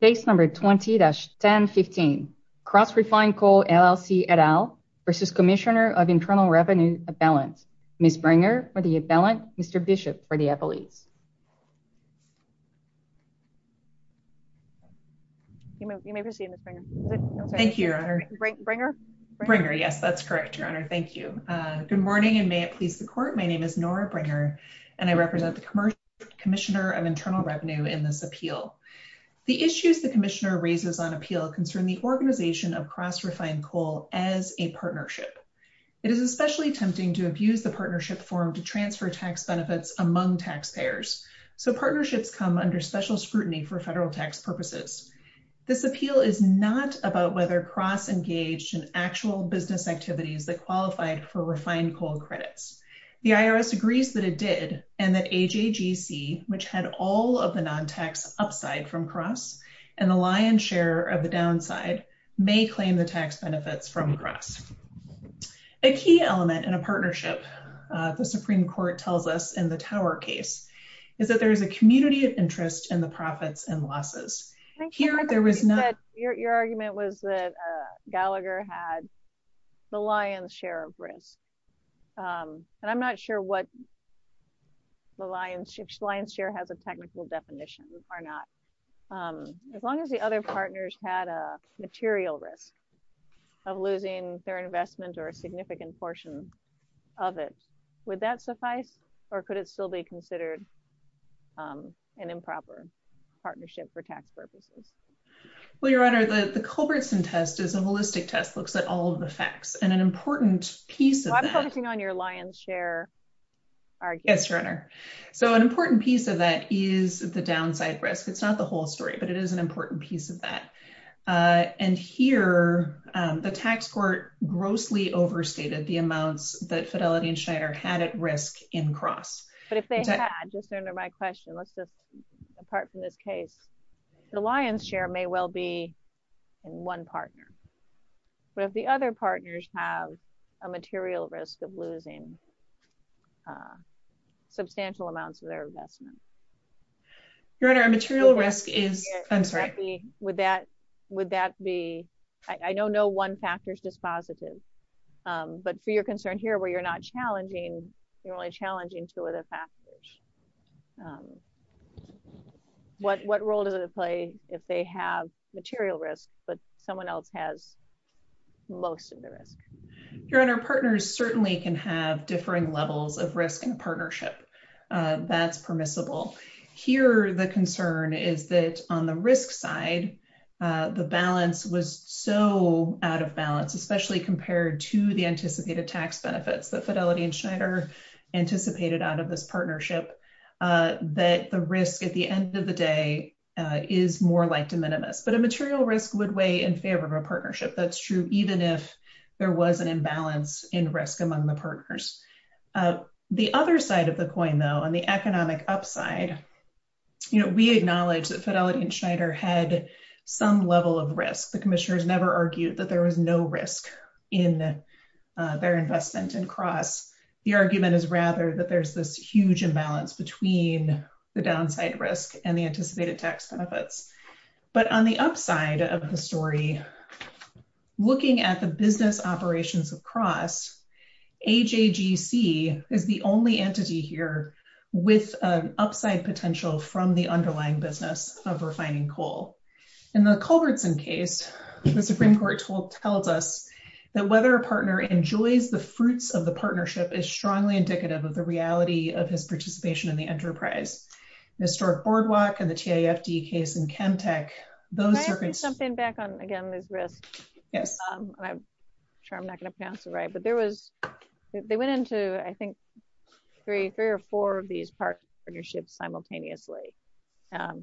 Case number 20-1015, Cross Refined Coal, LLC et al. v. Cmsnr of Internal Revenue, Appellant. Ms. Bringer for the appellant, Mr. Bishop for the appellees. You may proceed, Ms. Bringer. Thank you, Your Honor. Bringer? Bringer, yes, that's correct, Your Honor. Thank you. Good morning, and may it please the court. My name is Nora Bringer, and I represent the Cmsnr of Internal Revenue in this appeal. The issues the Commissioner raises on appeal concern the organization of Cross Refined Coal as a partnership. It is especially tempting to abuse the partnership form to transfer tax benefits among taxpayers. So partnerships come under special scrutiny for federal tax purposes. This appeal is not about whether Cross engaged in actual business activities that qualified for refined coal credits. The IRS agrees that it did, and that AJGC, which had all of the non-tax upside from Cross, and the lion's share of the downside, may claim the tax benefits from Cross. A key element in a partnership, the Supreme Court tells us in the Tower case, is that there is a community of interest in the profits and losses. Here, there was not... Your argument was that Gallagher had the lion's share of risk. And I'm not sure what the lion's share, lion's share has a as long as the other partners had a material risk of losing their investment or a significant portion of it, would that suffice? Or could it still be considered an improper partnership for tax purposes? Well, Your Honor, the Culbertson test is a holistic test, looks at all of the facts and an important piece of... I'm focusing on your lion's share argument. Yes, Your Honor. So an important piece of that is the downside risk. It's not the whole story, but it is an important piece of that. And here, the tax court grossly overstated the amounts that Fidelity and Schneider had at risk in Cross. But if they had, just under my question, let's just, apart from this case, the lion's share may well be in one partner. But if the other partners have a material risk of losing substantial amounts of their investment. Your Honor, a material risk is... I'm sorry. Would that be, I know no one factor is dispositive. But for your concern here, where you're not challenging, you're only challenging two other factors. What role does it play if they have material risk, but someone else has most of the risk? Your Honor, partners certainly can have differing levels of Here, the concern is that on the risk side, the balance was so out of balance, especially compared to the anticipated tax benefits that Fidelity and Schneider anticipated out of this partnership, that the risk at the end of the day is more like de minimis. But a material risk would weigh in favor of a partnership. That's true, even if there was an imbalance in risk among the partners. The other side of the coin, though, on the economic upside, we acknowledge that Fidelity and Schneider had some level of risk. The commissioners never argued that there was no risk in their investment in Cross. The argument is rather that there's this huge imbalance between the downside risk and the anticipated tax benefits. But on the upside of the story, looking at the business operations of with an upside potential from the underlying business of refining coal. In the Culbertson case, the Supreme Court told us that whether a partner enjoys the fruits of the partnership is strongly indicative of the reality of his participation in the enterprise. The historic boardwalk and the TIFD case in Chemtech, those circumstances jump in back on again, this risk. Yes. I'm sure I'm not going to pronounce it right. But there was, they went into, I believe, two of these partnerships simultaneously.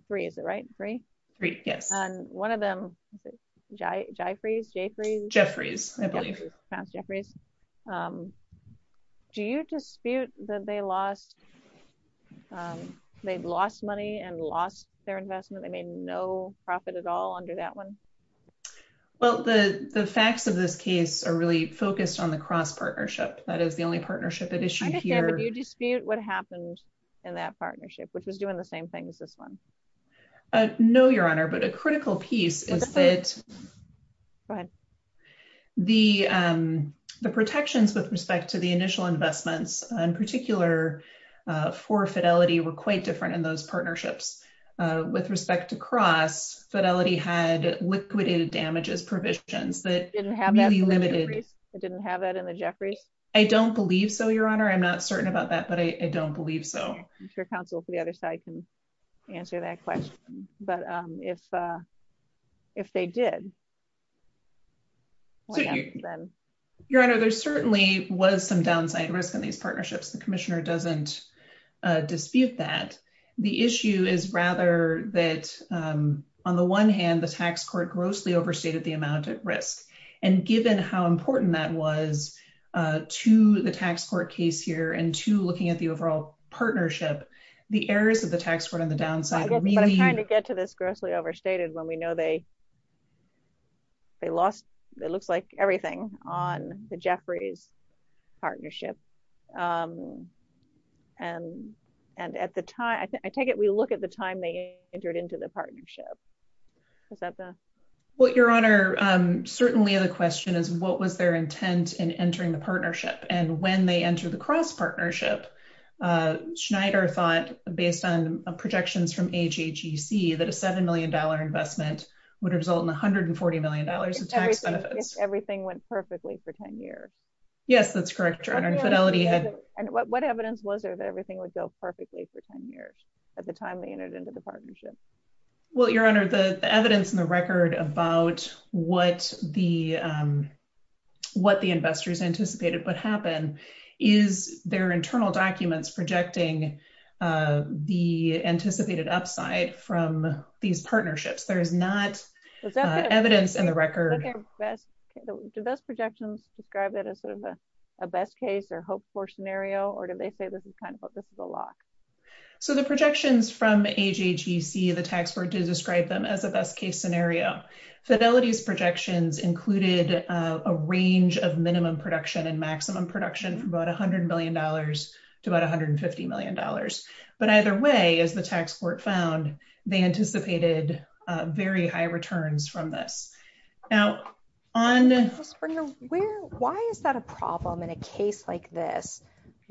Three, is it right? Three? Three, yes. And one of them, was it Jyfries? Jyfries? Jyfries, I believe. Passed Jyfries. Do you dispute that they lost, they've lost money and lost their investment? They made no profit at all under that one? Well, the facts of this case are really focused on the Cross partnership. That is the only partnership at issue here. Do you dispute what happened in that partnership, which was doing the same thing as this one? No, Your Honor, but a critical piece is that the, the protections with respect to the initial investments, in particular, for Fidelity were quite different in those partnerships. With respect to Cross, Fidelity had liquidated damages provisions that didn't have that in the Jyfries? I don't believe so, Your Honor. I'm not certain about that. But I don't believe so. I'm sure counsel for the other side can answer that question. But if, if they did. Your Honor, there certainly was some downside risk in these partnerships. The Commissioner doesn't dispute that. The issue is rather that, on the one hand, the tax court grossly overstated the amount of risk. And given how important that was to the tax court case here, and to looking at the overall partnership, the errors of the tax court on the downside... I'm trying to get to this grossly overstated when we know they, they lost, it looks like everything on the Jyfries partnership. And, and at the time, I take it we look at the time they entered into the partnership. Is that the... Well, Your Honor, certainly the question is, what was their intent in entering the partnership? And when they entered the cross partnership, Schneider thought, based on projections from HHEC, that a $7 million investment would result in $140 million of tax benefits. Everything went perfectly for 10 years. Yes, that's correct, Your Honor. And Fidelity had... And what evidence was there that everything would go perfectly for 10 years, at the time they entered into the partnership? Well, Your Honor, the evidence in the record about what the, what the investors anticipated would happen, is their internal documents projecting the anticipated upside from these partnerships. There's not evidence in the record. Did those projections describe it as sort of a best case or hoped for scenario? Or did they say this is kind of a lock? So the projections from HHEC, the tax board did describe them as a best case scenario. Fidelity's projections included a range of minimum production and maximum production for about $100 million to about $150 million. But either way, as the tax court found, they anticipated very high returns from this. Now, on... Why is that a problem in a case like this,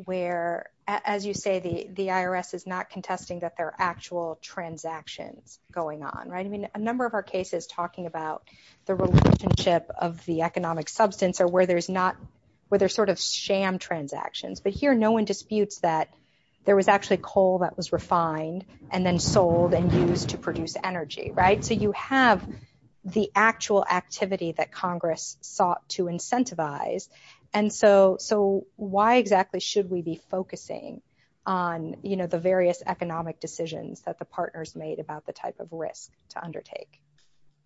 where, as you say, the IRS is not contesting that there are actual transactions going on, right? I mean, a number of our cases talking about the relationship of the economic substance or where there's not, where there's sort of sham transactions, but here no one disputes that there was actually coal that was refined, and then sold and used to produce energy, right? So you have the actual activity that Congress sought to incentivize. And so why exactly should we be focusing on, you know, the various economic decisions that the partners made about the type of risk to undertake?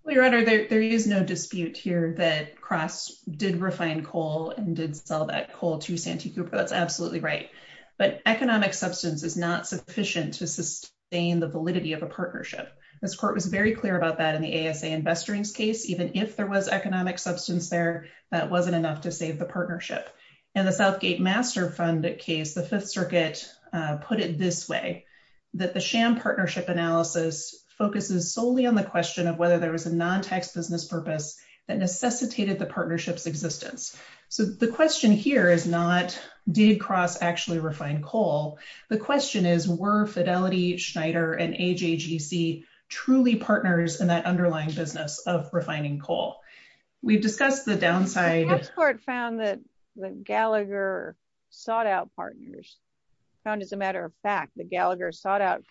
Well, Your Honor, there is no dispute here that Cross did refine coal and did sell that coal to Santee Cooper. That's absolutely right. But economic substance is not sufficient to sustain the validity of a partnership. This court was very clear about that in the ASA Investorings case, even if there was economic substance there, that wasn't enough to save the partnership. In the Southgate Master Fund case, the Fifth Circuit put it this way, that the sham partnership analysis focuses solely on the question of whether there was a non-tax business purpose that necessitated the partnership's existence. So the question here is not, did Cross actually refine coal? The question is, were Fidelity, Schneider, and AJGC truly partners in that underlying business of refining coal? We've discussed the downside... We found that Gallagher sought out partners, found as a matter of fact that Gallagher sought out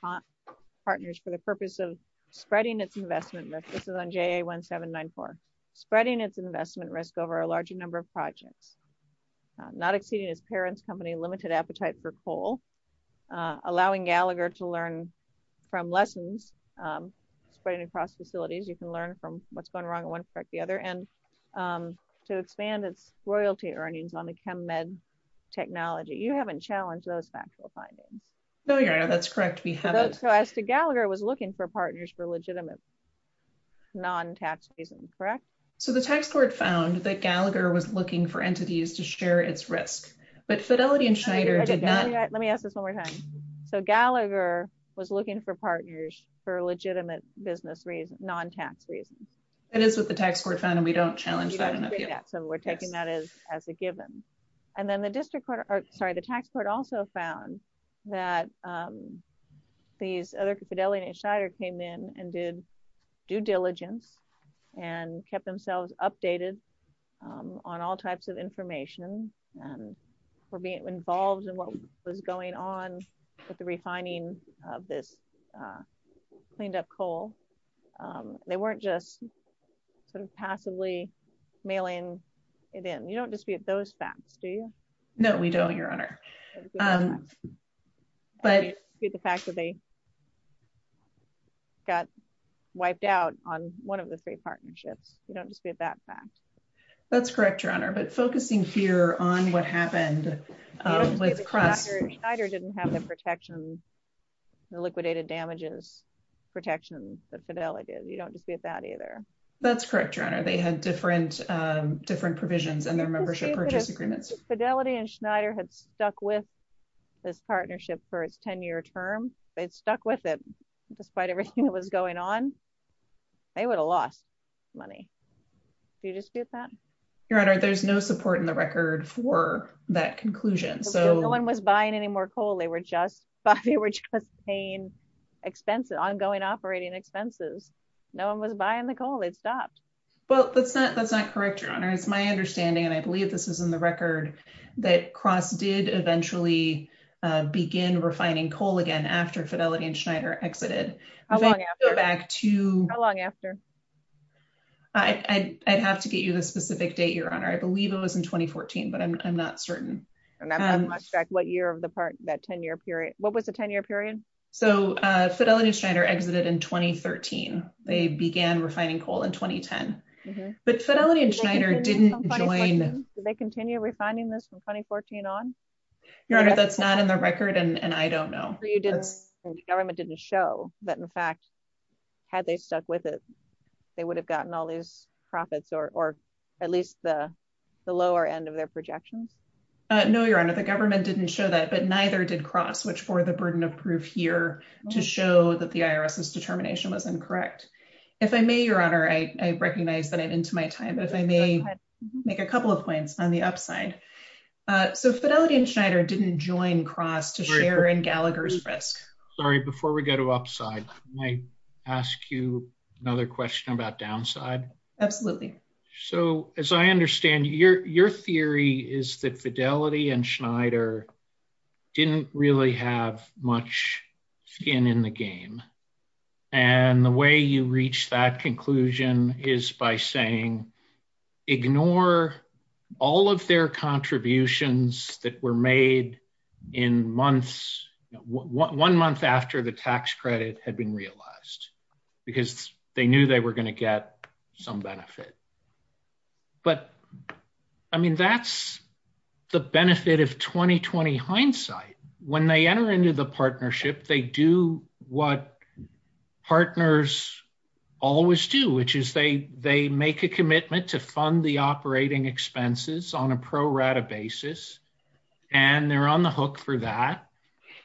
partners for the purpose of spreading its investment risk. This is on JA 1794. Spreading its investment risk over a larger number of projects, not exceeding its parents' company limited appetite for coal, allowing Gallagher to learn from lessons spreading across facilities, you can learn from what's going wrong in one aspect, the other, and to expand its royalty earnings on the ChemMed technology. You haven't challenged those factual findings. No, you're right. That's correct. We haven't. So as to Gallagher was looking for partners for legitimate non-tax reasons, correct? So the tax court found that Gallagher was looking for entities to share its risk, but Fidelity and Schneider did not... Let me ask this one more time. So Gallagher was looking for partners for legitimate business reasons, non-tax reasons? It is what the tax court found, and we don't challenge that in appeal. So we're taking that as a given. And then the district court, or sorry, the tax court also found that these other Fidelity and Schneider came in and did due diligence and kept themselves updated on all types of information and were being involved in what was going on with the refining of this cleaned up coal. They weren't just sort of passively mailing it in. You don't dispute those facts, do you? No, we don't, Your Honor. But the fact that they got wiped out on one of the three partnerships. You don't dispute that fact. That's correct, Your Honor. But focusing here on what happened with Crest... Schneider didn't have the protection, the liquidated damages protection that Fidelity did. You don't dispute that either. That's correct, Your Honor. They had different provisions in their membership purchase agreements. Fidelity and Schneider had stuck with this partnership for its 10-year term. They'd stuck with it despite everything that was going on. They would have lost money. Do you dispute that? Your Honor, there's no support in the record for that conclusion. So no one was buying any more coal. They were just paying expenses, ongoing operating expenses. No one was buying the coal. It stopped. Well, that's not correct, Your Honor. It's my understanding, and I believe this is in the record, that Crest did eventually begin refining coal again after Fidelity and Schneider exited. How long after? If I go back to... How long after? I'd have to get you the specific date, Your Honor. I believe it was in 2014, but I'm not certain. And I'm not sure what year of the part, that 10-year period. What was the 10-year period? So Fidelity and Schneider exited in 2013. They began refining coal in 2010. But Fidelity and Schneider didn't join... Did they continue refining this from 2014 on? Your Honor, that's not in the record, and I don't know. So the government didn't show that, in fact, had they stuck with it, they would have gotten all these profits, or at least the lower end of their projections? No, Your Honor, the government didn't show that, but neither did Crest, which bore the burden of proof here to show that the IRS's determination was incorrect. If I may, Your Honor, I recognize that I'm into my time, but if I may make a couple of points on the upside. So Fidelity and Schneider didn't join Crest to share in Gallagher's risk. Sorry, before we go to upside, can I ask you another question about downside? Absolutely. So as I understand, your theory is that Fidelity and Schneider didn't really have much skin in the game, and the way you reach that conclusion is by saying, ignore all of their contributions that were made in months, one month after the tax credit had been realized, because they knew they were going to get some benefit. But I mean, that's the benefit of 2020 hindsight. When they enter into the partnership, they do what partners always do, which is they make a commitment to fund the operating expenses on a pro rata basis, and they're on the hook for that.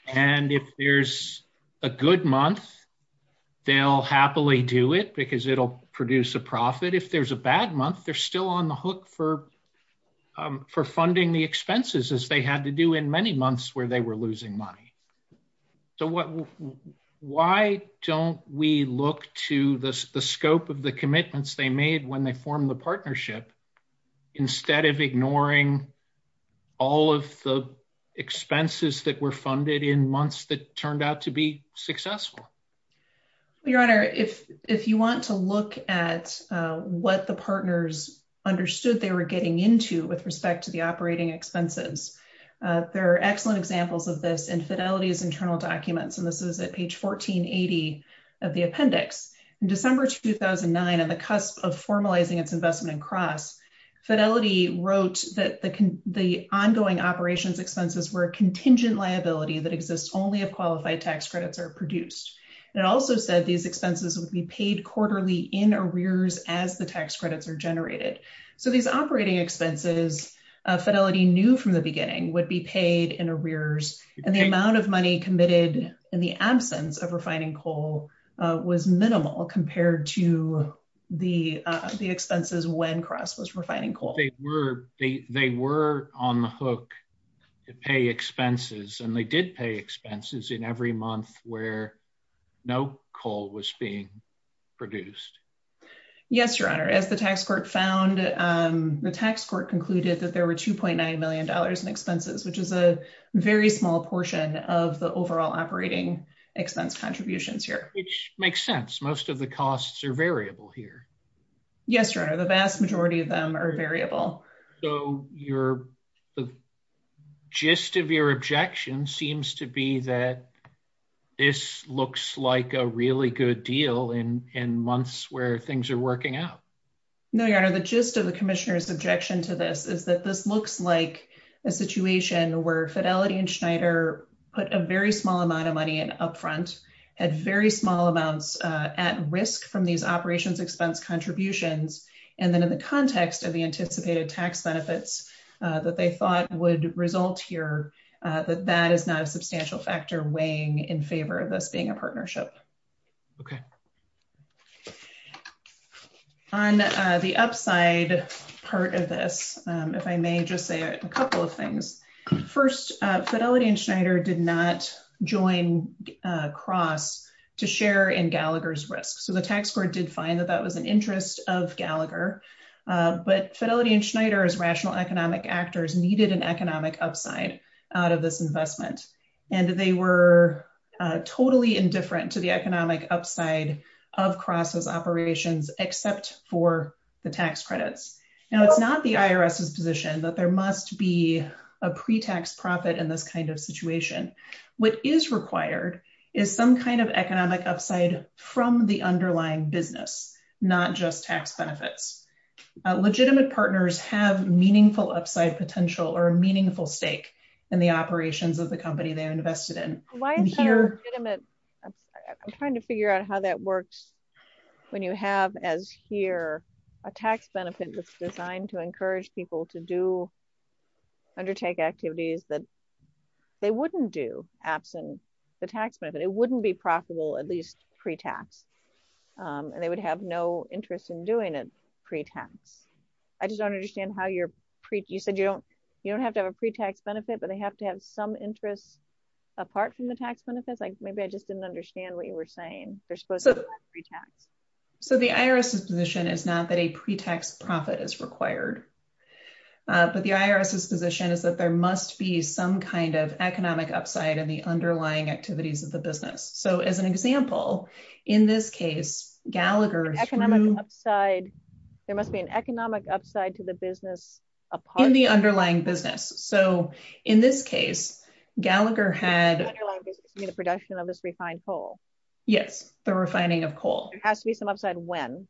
And if there's a good month, they'll happily do it because it'll produce a profit. If there's a bad month, they're still on the hook for funding the expenses, as they had to do in many months where they were losing money. So why don't we look to the scope of the commitments they made when they formed the partnership, instead of ignoring all of the expenses that were funded in months that turned out to be successful? Your Honor, if you want to look at what the partners understood they were getting into with respect to the operating expenses, there are excellent examples of this in Fidelity's internal documents, and this is at page 1480 of the appendix. In December 2009, on the cusp of formalizing its investment in CROSS, Fidelity wrote that the ongoing operations expenses were a contingent liability that exists only if qualified tax credits are produced. And it also said these expenses would be paid quarterly in arrears as the tax credits are generated. So these operating expenses, Fidelity knew from the beginning, would be paid in arrears, and the amount of money committed in the absence of refining coal was minimal compared to the expenses when CROSS was refining coal. They were on the hook to pay expenses, and they did pay expenses in every month where no coal was being produced. Yes, Your Honor. As the tax court found, the tax court concluded that there were $2.9 million in expenses, which is a very small portion of the overall operating expense contributions here. Which makes sense. Most of the costs are variable here. Yes, Your Honor. The vast majority of them are variable. So the gist of your objection seems to be that this looks like a really good deal in months where things are working out. No, Your Honor. The gist of the Commissioner's objection to this is that this looks like a situation where Fidelity and Schneider put a very small amount of money up front, had very small amounts at risk from these operations expense contributions. And then in the context of the anticipated tax benefits that they thought would result here, that is not a substantial factor weighing in favor of this being a partnership. Okay. On the upside part of this, if I may just say a couple of things. First, Fidelity and Schneider did not join CROSS to share in Gallagher's risk. The tax court did find that that was an interest of Gallagher, but Fidelity and Schneider's rational economic actors needed an economic upside out of this investment. And they were totally indifferent to the economic upside of CROSS's operations, except for the tax credits. Now, it's not the IRS's position that there must be a pre-tax profit in this kind of situation. What is required is some kind of economic upside from the underlying business, not just tax benefits. Legitimate partners have meaningful upside potential or a meaningful stake in the operations of the company they are invested in. I'm trying to figure out how that works when you have, as here, a tax benefit that's designed to encourage people to undertake activities that they wouldn't do absent the tax benefit. It wouldn't be profitable, at least pre-tax. And they would have no interest in doing it pre-tax. I just don't understand how you said you don't have to have a pre-tax benefit, but they have to have some interest apart from the tax benefits. Maybe I just didn't understand what you were saying. They're supposed to have pre-tax. So the IRS's position is not that a pre-tax profit is required. But the IRS's position is that there must be some kind of economic upside in the underlying activities of the business. So as an example, in this case, Gallagher's economic upside, there must be an economic upside to the business upon the underlying business. So in this case, Gallagher had the production of this refined coal. Yes. The refining of coal has to be some upside when?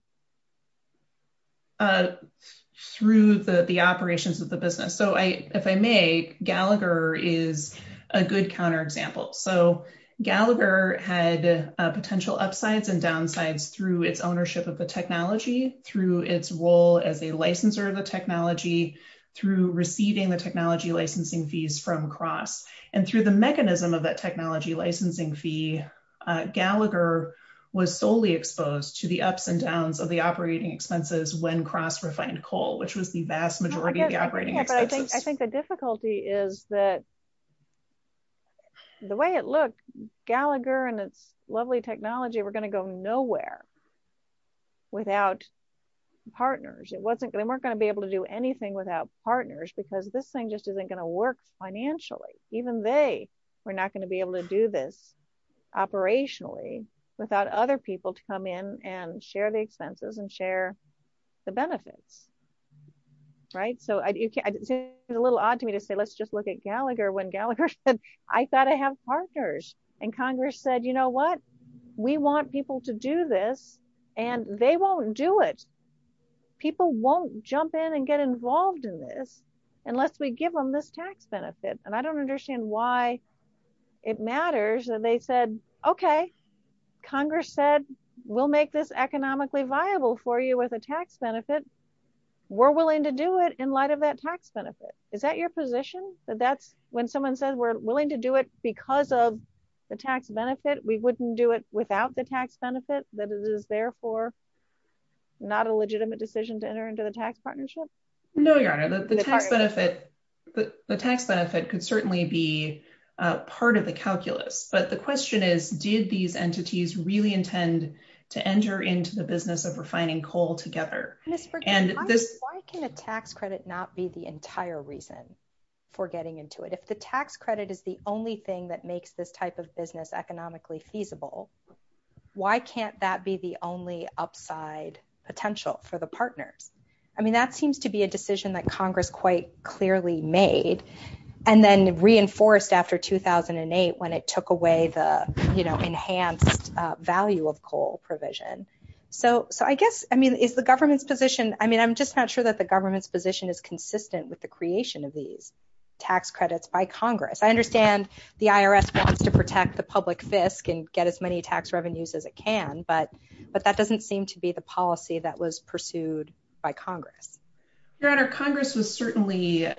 Through the operations of the business. So if I may, Gallagher is a good counterexample. So Gallagher had potential upsides and downsides through its ownership of the technology, through its role as a licensor of the technology, through receiving the technology licensing fees from Cross, and through the mechanism of that technology licensing fee, Gallagher was solely exposed to the ups and downs of the operating expenses when Cross refined coal, which was the vast majority of the operating expenses. I think the difficulty is that the way it looked, Gallagher and its lovely technology were going to go nowhere without partners. They weren't going to be able to do anything without partners, because this thing just isn't going to work financially. Even they were not going to be able to do this operationally without other people to come in and share the expenses and share the benefits. So it's a little odd to me to say, let's just look at Gallagher when Gallagher said, I thought I have partners. And Congress said, you know what? We want people to do this, and they won't do it. People won't jump in and get involved in this unless we give them this tax benefit. And I don't understand why it matters that they said, OK, Congress said, we'll make this economically viable for you with a tax benefit. We're willing to do it in light of that tax benefit. Is that your position? That that's when someone said, we're willing to do it because of the tax benefit, we wouldn't do it without the tax benefit, that it is therefore not a legitimate decision to enter into the tax partnership? No, Your Honor, the tax benefit could certainly be part of the calculus. But the question is, did these entities really intend to enter into the business of refining coal together? Ms. Berg, why can a tax credit not be the entire reason for getting into it? If the tax credit is the only thing that makes this type of business economically feasible, why can't that be the only upside potential for the partners? I mean, that seems to be a decision that Congress quite clearly made and then reinforced after 2008 when it took away the enhanced value of coal provision. So I guess, I mean, is the government's position, I mean, I'm just not sure that the government's position is consistent with the creation of these tax credits by Congress. I understand the IRS wants to protect the public fisc and get as many tax revenues as it can, but that doesn't seem to be the policy that was pursued by Congress. Your Honor, Congress was certainly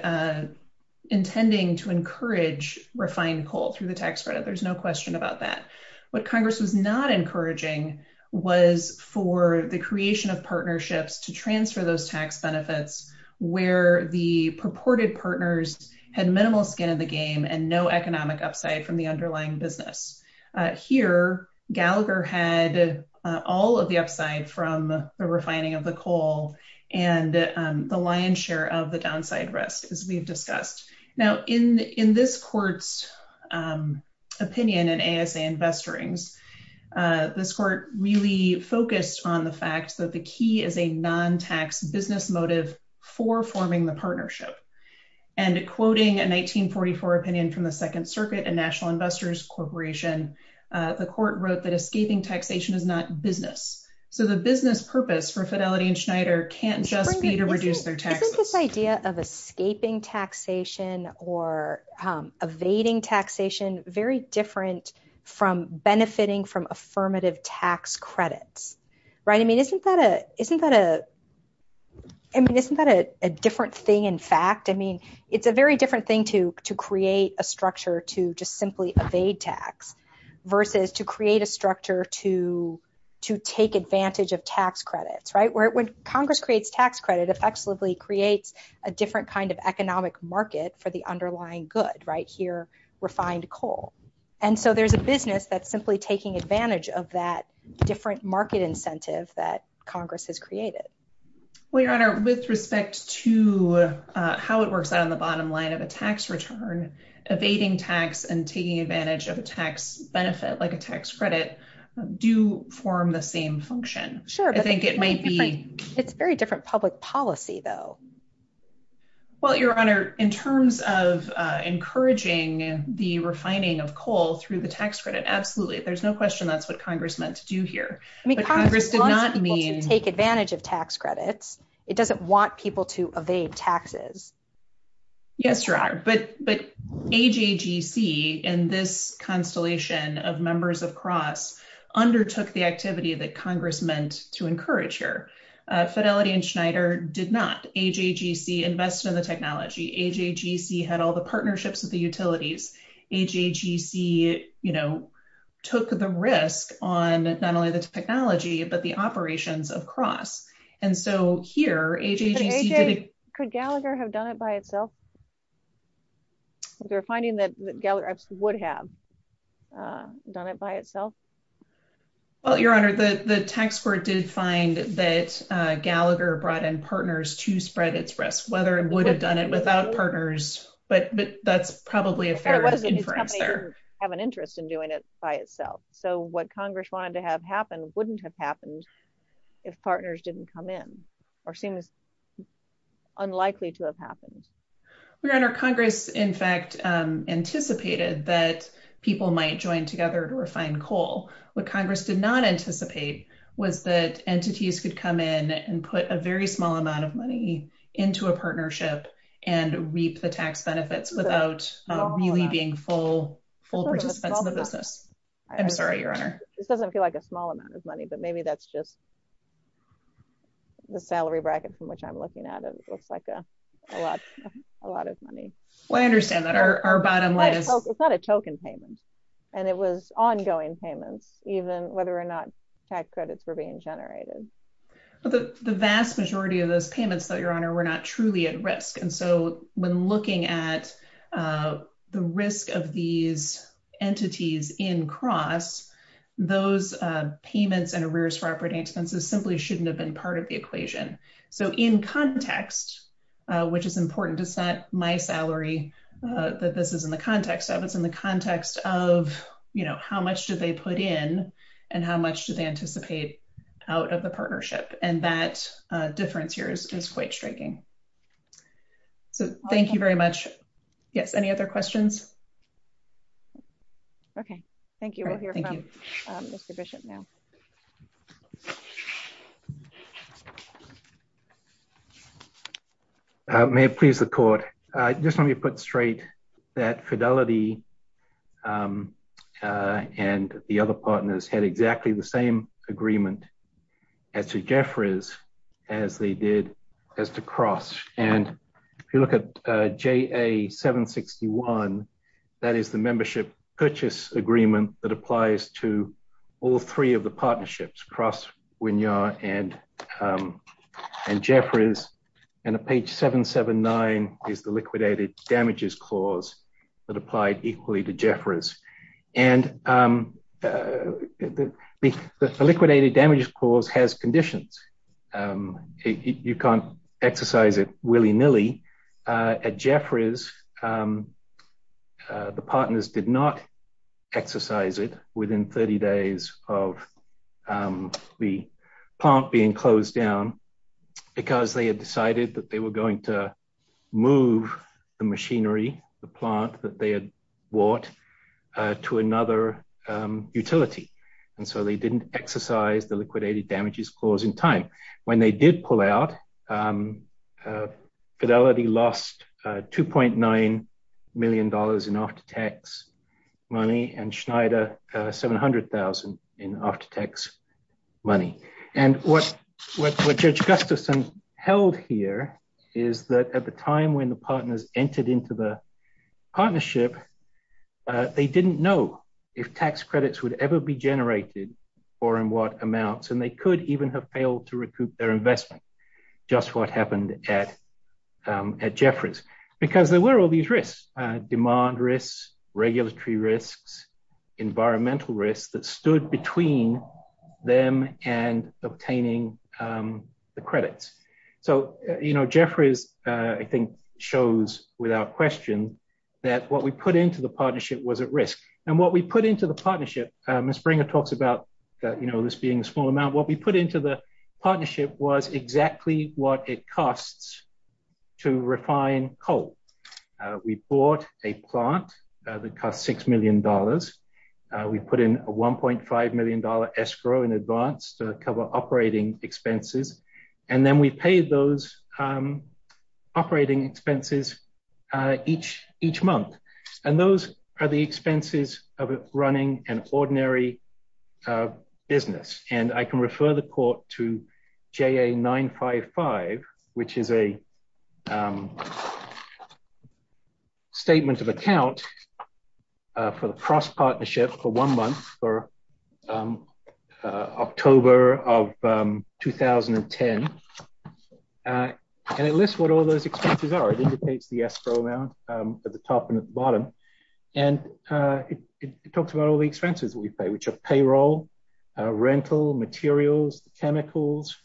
intending to encourage refined coal through the tax credit. There's no question about that. What Congress was not encouraging was for the creation of partnerships to transfer those tax benefits where the purported partners had minimal skin in the game and no economic upside from the underlying business. Here, Gallagher had all of the upside from the refining of the coal and the lion's share of the downside risk as we've discussed. Now, in this court's opinion in ASA Investorings, this court really focused on the fact that the key is a non-tax business motive for forming the partnership. And quoting a 1944 opinion from the Second Circuit and National Investors Corporation, the court wrote that escaping taxation is not business. So the business purpose for Fidelity and Schneider can't just be to reduce their taxes. Is this idea of escaping taxation or evading taxation very different from benefiting from affirmative tax credits, right? I mean, isn't that a different thing? In fact, I mean, it's a very different thing to create a structure to just simply evade tax versus to create a structure to take advantage of tax credits, right? When Congress creates tax credit, it effectively creates a different kind of economic market for the underlying good, right? Here, refined coal. And so there's a business that's simply taking advantage of that different market incentive that Congress has created. Well, Your Honor, with respect to how it works out on the bottom line of a tax return, evading tax and taking advantage of a tax benefit like a tax credit do form the same function. I think it might be. It's very different public policy, though. Well, Your Honor, in terms of encouraging the refining of coal through the tax credit, absolutely. There's no question that's what Congress meant to do here. I mean, Congress did not mean to take advantage of tax credits. It doesn't want people to evade taxes. Yes, Your Honor, but AJGC and this constellation of members of Cross undertook the activity that Congress meant to encourage here. Fidelity and Schneider did not. AJGC invested in the technology. AJGC had all the partnerships with the utilities. AJGC took the risk on not only the technology, but the operations of Cross. And so here, AJGC did it. Could Gallagher have done it by itself? They're finding that Gallagher would have done it by itself. Well, Your Honor, the tax court did find that Gallagher brought in partners to spread its risk, whether it would have done it without partners. But that's probably a fair inference there. Have an interest in doing it by itself. So what Congress wanted to have happen wouldn't have happened if partners didn't come in or seem unlikely to have happened. Your Honor, Congress, in fact, anticipated that people might join together to refine coal. What Congress did not anticipate was that entities could come in and put a very small amount of money into a partnership and reap the tax benefits without really being full participants in the business. I'm sorry, Your Honor. This doesn't feel like a small amount of money, but maybe that's just the salary bracket from which I'm looking at it. It looks like a lot of money. Well, I understand that. Our bottom line is- It's not a token payment. And it was ongoing payments, even whether or not tax credits were being generated. The vast majority of those payments, Your Honor, were not truly at risk. And so when looking at the risk of these entities in cross, those payments and arrears for operating expenses simply shouldn't have been part of the equation. So in context, which is important, it's not my salary that this is in the context of. It's in the context of how much do they put in and how much do they anticipate out of the partnership. And that difference here is quite striking. So thank you very much. Yes, any other questions? Okay, thank you. We'll hear from Mr. Bishop now. Thank you, Your Honor. May it please the court. Just let me put straight that Fidelity and the other partners had exactly the same agreement as to Jeffries, as they did as to cross. And if you look at JA761, that is the membership purchase agreement that applies to all three of the partnerships, cross, Winyar and Jeffries. And at page 779 is the liquidated damages clause that applied equally to Jeffries. And the liquidated damages clause has conditions. You can't exercise it willy-nilly. At Jeffries, the partners did not exercise it within 30 days of the plant being closed down because they had decided that they were going to move the machinery, the plant that they had bought to another utility. And so they didn't exercise the liquidated damages clause in time. When they did pull out, Fidelity lost $2.9 million in after-tax money and Schneider 700,000 in after-tax money. And what Judge Gustafson held here is that at the time when the partners entered into the partnership, they didn't know if tax credits would ever be generated or in what amounts. And they could even have failed to recoup their investment, just what happened at Jeffries. Because there were all these risks, demand risks, regulatory risks, environmental risks that stood between them and obtaining the credits. So Jeffries, I think, shows without question that what we put into the partnership was at risk. And what we put into the partnership, Ms. Springer talks about this being a small amount, what we put into the partnership was exactly what it costs to refine coal. We bought a plant that costs $6 million. We put in a $1.5 million escrow in advance to cover operating expenses. And then we paid those operating expenses each month. And those are the expenses of running an ordinary business. And I can refer the court to JA-955, which is a statement of account for the cross partnership for one month for October of 2010. And it lists what all those expenses are. It indicates the escrow amount at the top and at the bottom. And it talks about all the expenses that we pay, which are payroll, rental, materials, the chemicals,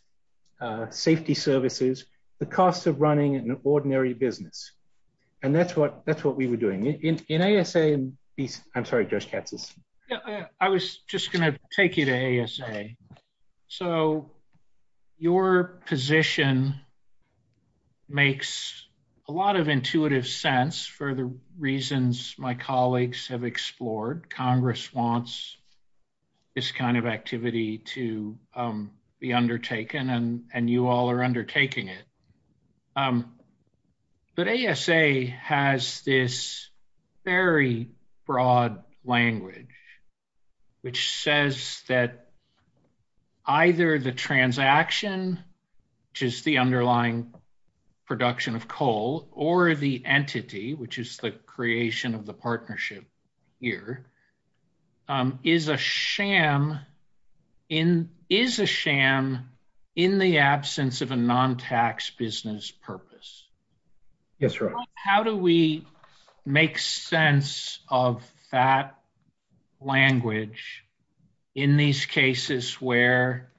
safety services, the cost of running an ordinary business. And that's what we were doing. In ASA, I'm sorry, Josh Katz is. Yeah, I was just gonna take you to ASA. So your position makes a lot of intuitive sense for the reasons my colleagues have explored. Congress wants this kind of activity to be undertaken and you all are undertaking it. But ASA has this very broad language, which says that either the transaction, which is the underlying production of coal, or the entity, which is the creation of the partnership here, is a sham in the absence of a non-tax business purpose. Yes, right. How do we make sense of that language in these cases where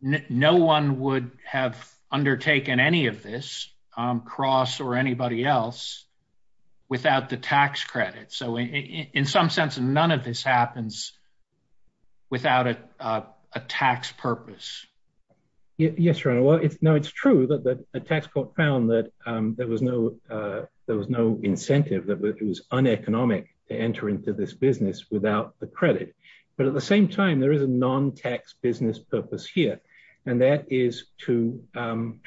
no one would have undertaken any of this, Cross or anybody else, without the tax credit? So in some sense, none of this happens without a tax purpose. Yes, Your Honor. Well, no, it's true that a tax court found that there was no incentive, that it was uneconomic to enter into this business without the credit. But at the same time, there is a non-tax business purpose here. And that is to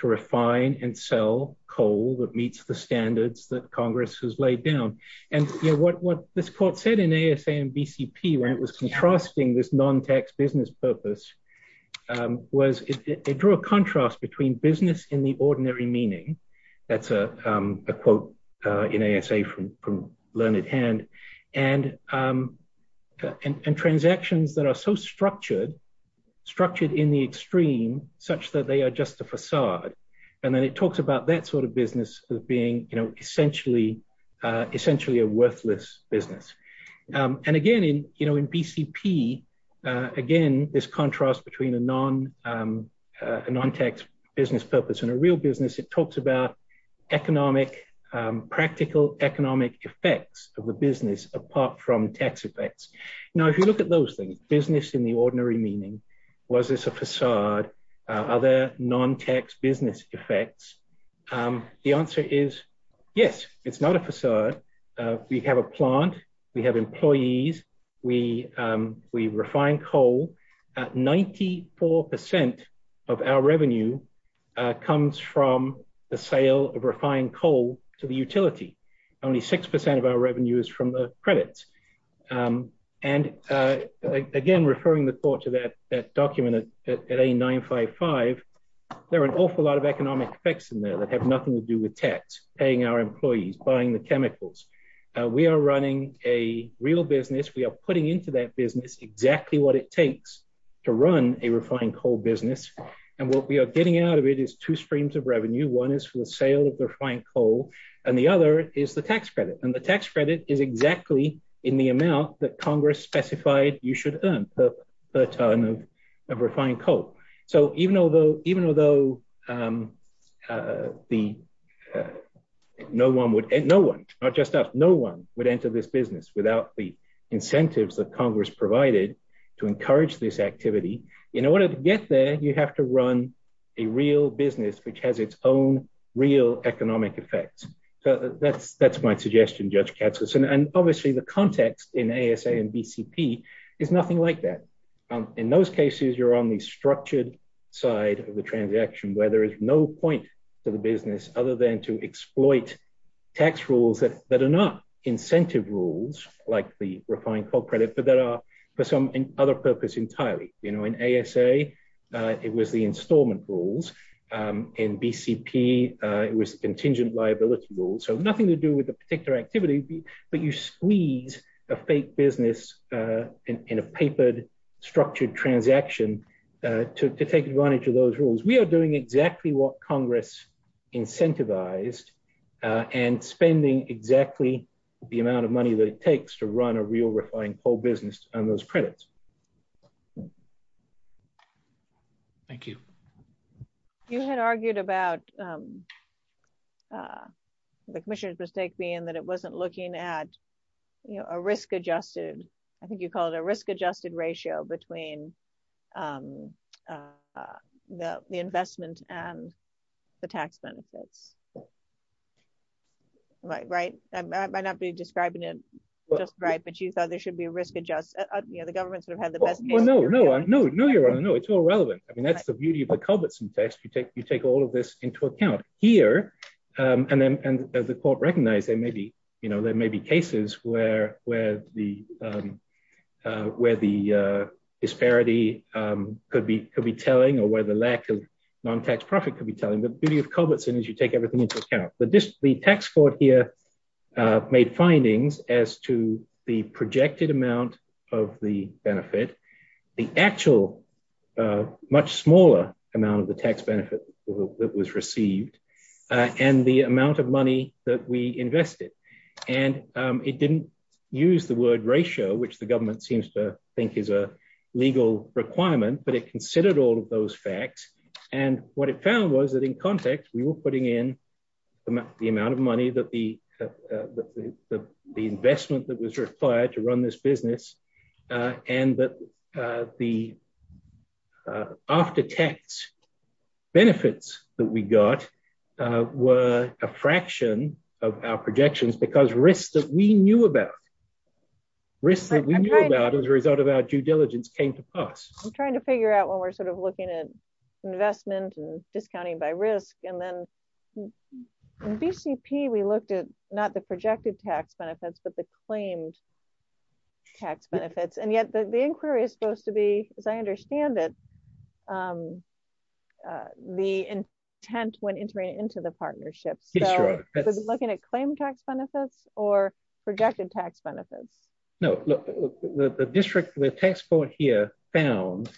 refine and sell coal that meets the standards that Congress has laid down. And what this court said in ASA and BCP, when it was contrasting this non-tax business purpose, was it drew a contrast between business in the ordinary meaning, that's a quote in ASA from Learned Hand, and transactions that are so structured, structured in the extreme, such that they are just a facade. And then it talks about that sort of business as being essentially a worthless business. And again, in BCP, again, this contrast between a non-tax business purpose and a real business, it talks about practical economic effects of the business apart from tax effects. Now, if you look at those things, business in the ordinary meaning, was this a facade? Are there non-tax business effects? The answer is, yes, it's not a facade. We have a plant, we have employees, we refine coal at 94% of our revenue comes from the sale of refined coal to the utility. Only 6% of our revenue is from the credits. And again, referring the court to that document at A955, there are an awful lot of economic effects in there that have nothing to do with tax, paying our employees, buying the chemicals. We are running a real business, we are putting into that business exactly what it takes to run a refined coal business. And what we are getting out of it is two streams of revenue. One is for the sale of the refined coal, and the other is the tax credit. And the tax credit is exactly in the amount that Congress specified you should earn per ton of refined coal. So even though no one would, no one, not just us, no one would enter this business without the incentives that Congress provided to encourage this activity. In order to get there, you have to run a real business which has its own real economic effects. So that's my suggestion, Judge Katsas. And obviously the context in ASA and BCP is nothing like that. In those cases, you're on the structured side of the transaction where there is no point to the business other than to exploit tax rules that are not incentive rules like the refined coal credit, but that are for some other purpose entirely. In ASA, it was the installment rules. In BCP, it was contingent liability rules. So nothing to do with the particular activity, but you squeeze a fake business in a papered structured transaction to take advantage of those rules. We are doing exactly what Congress incentivized and spending exactly the amount of money that it takes to run a real refined coal business on those credits. Thank you. You had argued about the commissioner's mistake being that it wasn't looking at a risk-adjusted, I think you call it a risk-adjusted ratio between the investment and the tax benefits. Right? I might not be describing it just right, but you thought there should be a risk adjust. You know, the government sort of had the best- Well, no, no, no, no, Your Honor. No, it's all relevant. I mean, that's the beauty of the Culbertson text. You take all of this into account. Here, and as the court recognized, there may be cases where the disparity could be telling or where the lack of non-tax profit could be telling. The beauty of Culbertson is you take everything into account. But the tax court here made findings as to the projected amount of the benefit, the actual much smaller amount of the tax benefit that was received, and the amount of money that we invested. And it didn't use the word ratio, which the government seems to think is a legal requirement, but it considered all of those facts. And what it found was that in context, we were putting in the amount of money that the investment that was required to run this business and that the after-tax benefits that we got were a fraction of our projections because risks that we knew about, risks that we knew about as a result of our due diligence came to pass. I'm trying to figure out when we're sort of looking at investment and discounting by risk. And then in BCP, we looked at not the projected tax benefits, but the claimed tax benefits. And yet the inquiry is supposed to be, as I understand it, the intent when entering into the partnership. So looking at claimed tax benefits or projected tax benefits. No, look, the district, the tax court here found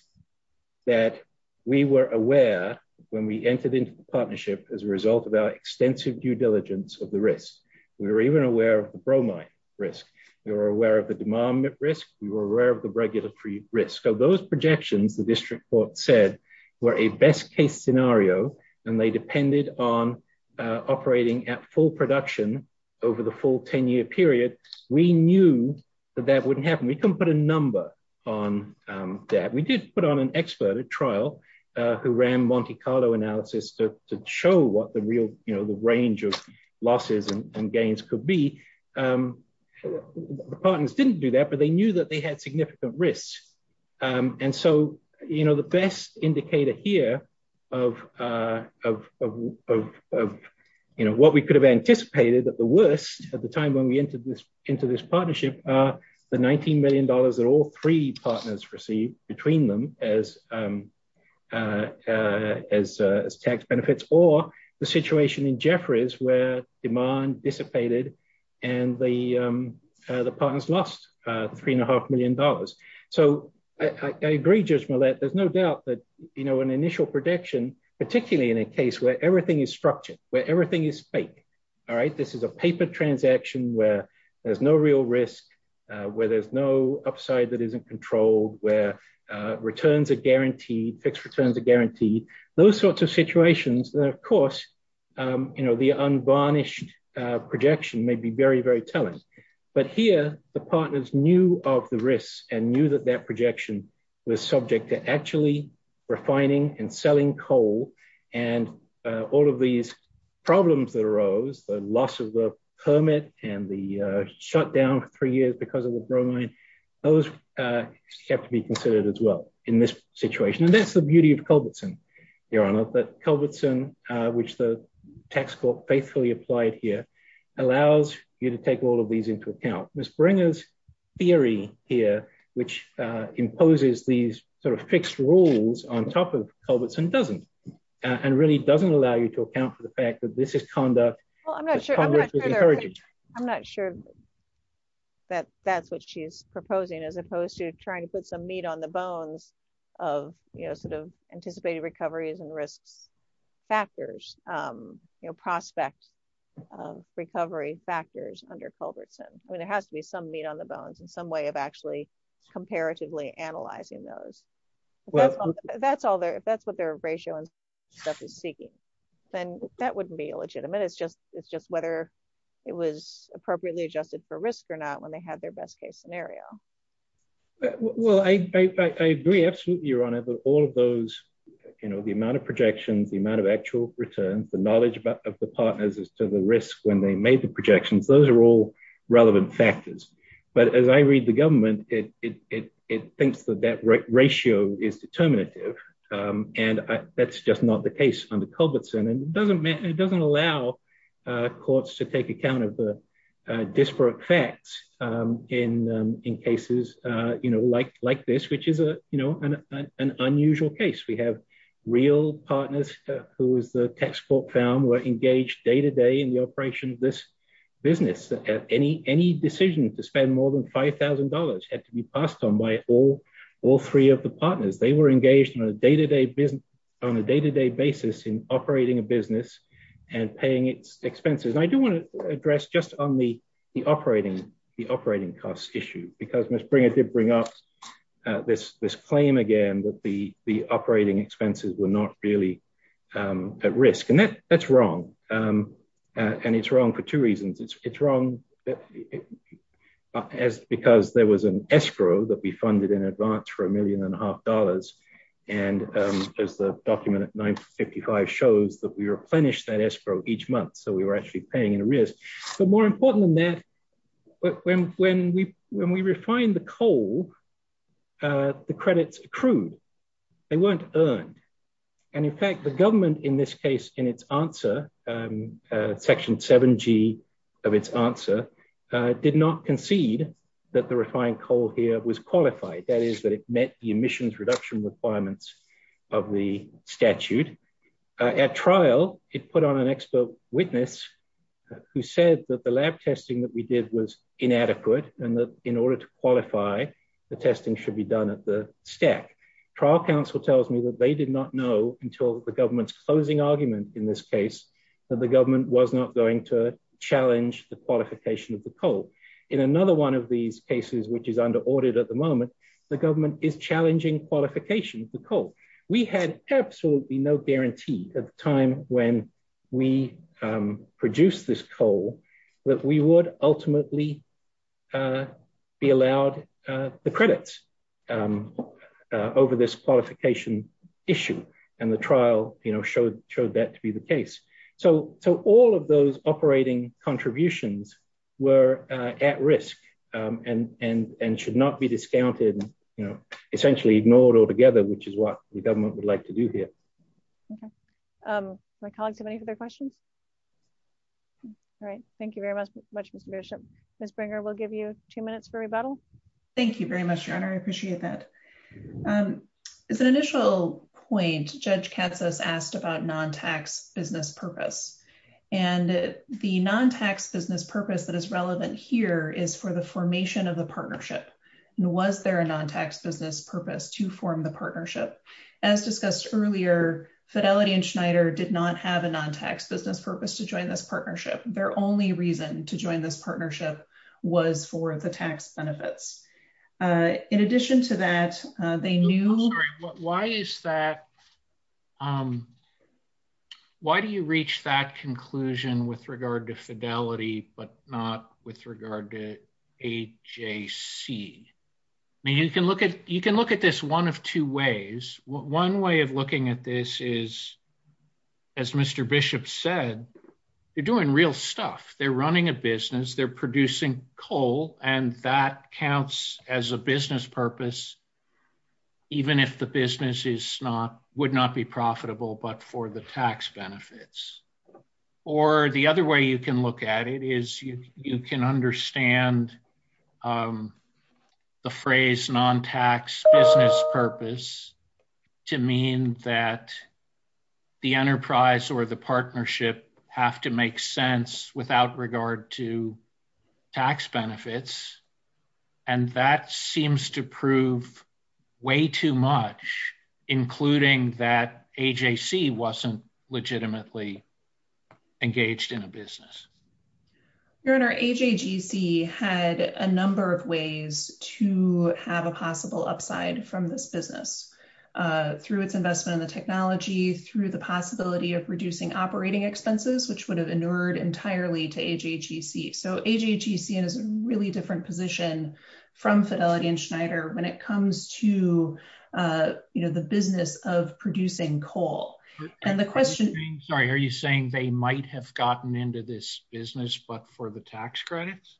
that we were aware when we entered into the partnership as a result of our extensive due diligence of the risk. We were even aware of the bromide risk. We were aware of the demand risk. We were aware of the regulatory risk. So those projections, the district court said, were a best case scenario and they depended on operating at full production over the full 10 year period. We knew that that wouldn't happen. We couldn't put a number on that. We did put on an expert at trial who ran Monte Carlo analysis to show what the real, the range of losses and gains could be. The partners didn't do that, but they knew that they had significant risks. And so the best indicator here of what we could have anticipated at the worst at the time when we entered into this partnership are the $19 million that all three partners received between them as tax benefits or the situation in Jefferies where demand dissipated and the partners lost $3.5 million. So I agree, Judge Millett, there's no doubt that an initial prediction, particularly in a case where everything is structured, where everything is fake, all right? This is a paper transaction where there's no real risk, where there's no upside that isn't controlled, where returns are guaranteed, fixed returns are guaranteed. Those sorts of situations that of course, the unvarnished projection may be very, very telling, but here the partners knew of the risks and knew that that projection was subject to actually refining and selling coal and all of these problems that arose, the loss of the permit and the shutdown for three years because of the bromine, those have to be considered as well in this situation. That's the beauty of Culbertson, Your Honor, that Culbertson, which the tax court faithfully applied here, allows you to take all of these into account. Ms. Bringer's theory here, which imposes these sort of fixed rules on top of Culbertson doesn't, and really doesn't allow you to account for the fact that this is conduct that Congress is encouraging. I'm not sure that that's what she's proposing as opposed to trying to put some meat on the bones of sort of anticipated recoveries and risks factors, prospect recovery factors under Culbertson. I mean, there has to be some meat on the bones and some way of actually comparatively analyzing those. If that's what their ratio and stuff is seeking, then that wouldn't be illegitimate. It's just whether it was appropriately adjusted for risk or not when they had their best case scenario. Well, I agree absolutely, Your Honor, that all of those, the amount of projections, the amount of actual returns, the knowledge of the partners as to the risk when they made the projections, those are all relevant factors. But as I read the government, it thinks that that ratio is determinative. And that's just not the case under Culbertson. And it doesn't allow courts to take account of the disparate facts in cases like this, which is an unusual case. We have real partners who is the textbook found were engaged day-to-day in the operation of this business. Any decision to spend more than $5,000 had to be passed on by all three of the partners. They were engaged on a day-to-day basis in operating a business and paying its expenses. And I do wanna address just on the operating cost issue, because Ms. Bringer did bring up this claim again that the operating expenses were not really at risk. And that's wrong. And it's wrong for two reasons. It's wrong because there was an escrow that we funded in advance for a million and a half dollars. And as the document at 955 shows that we replenished that escrow each month. So we were actually paying in arrears. But more important than that, when we refined the coal, the credits accrued, they weren't earned. And in fact, the government in this case, in its answer, section 7G of its answer, did not concede that the refined coal here was qualified. That is that it met the emissions reduction requirements of the statute. At trial, it put on an expert witness who said that the lab testing that we did was inadequate. And that in order to qualify, the testing should be done at the stack. Trial counsel tells me that they did not know until the government's closing argument in this case, that the government was not going to challenge the qualification of the coal. In another one of these cases, which is under audit at the moment, the government is challenging qualification of the coal. We had absolutely no guarantee at the time when we produced this coal that we would ultimately be allowed the credits over this qualification issue. And the trial showed that to be the case. So all of those operating contributions were at risk and should not be discounted, essentially ignored altogether, which is what the government would like to do here. Okay. My colleagues have any other questions? All right. Thank you very much, Ms. Bringer. We'll give you two minutes for rebuttal. Thank you very much, Your Honor. I appreciate that. As an initial point, Judge Katz has asked about non-tax business purpose. And the non-tax business purpose that is relevant here is for the formation of the partnership. And was there a non-tax business purpose to form the partnership? As discussed earlier, Fidelity and Schneider did not have a non-tax business purpose to join this partnership. Their only reason to join this partnership was for the tax benefits. In addition to that, they knew- Why is that? Why do you reach that conclusion with regard to Fidelity, but not with regard to AJC? I mean, you can look at this one of two ways. One way of looking at this is, as Mr. Bishop said, they're doing real stuff. They're running a business. They're producing coal. And that counts as a business purpose, even if the business would not be profitable, but for the tax benefits. Or the other way you can look at it is you can understand the phrase non-tax business purpose to mean that the enterprise or the partnership have to make sense without regard to tax benefits. And that seems to prove way too much, including that AJC wasn't legitimately engaged in a business. Your Honor, AJGC had a number of ways to have a possible upside from this business, through its investment in the technology, through the possibility of reducing operating expenses, which would have inured entirely to AJGC. So AJGC is in a really different position from Fidelity and Schneider when it comes to the business of producing coal. And the question- Are you saying they might have gotten into this business, but for the tax credits?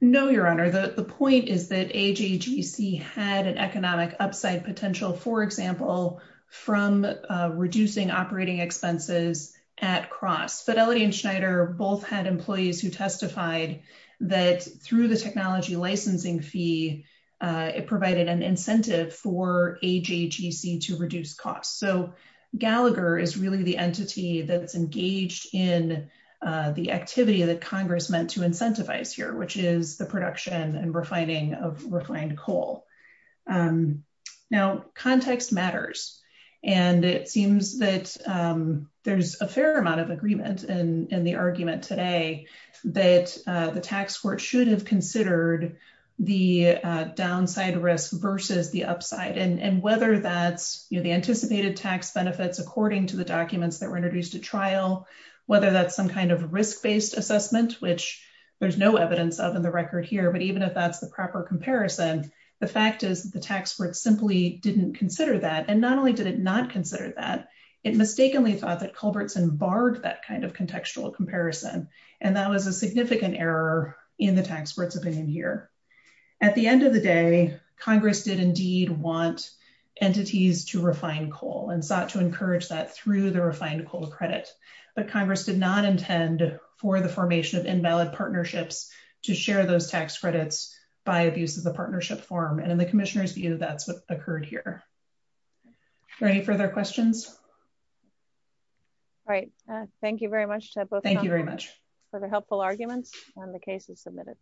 No, Your Honor. The point is that AJGC had an economic upside potential, for example, from reducing operating expenses at cross. Fidelity and Schneider both had employees who testified that through the technology licensing fee, it provided an incentive for AJGC to reduce costs. So Gallagher is really the entity that's engaged in the activity that Congress meant to incentivize here, which is the production and refining of refined coal. Now, context matters. And it seems that there's a fair amount of agreement in the argument today that the tax court should have considered the downside risk versus the upside. And whether that's the anticipated tax benefits, according to the documents that were introduced at trial, whether that's some kind of risk-based assessment, which there's no evidence of in the record here, but even if that's the proper comparison, the fact is the tax court simply didn't consider that. And not only did it not consider that, it mistakenly thought that Culbertson barred that kind of contextual comparison. And that was a significant error in the tax court's opinion here. At the end of the day, Congress did indeed want entities to refine coal and sought to encourage that through the refined coal credit. But Congress did not intend for the formation of invalid partnerships to share those tax credits by abuse of the partnership form. And in the commissioner's view, that's what occurred here. Are there any further questions? All right. Thank you very much, Ted. Thank you very much. For the helpful arguments and the cases submitted.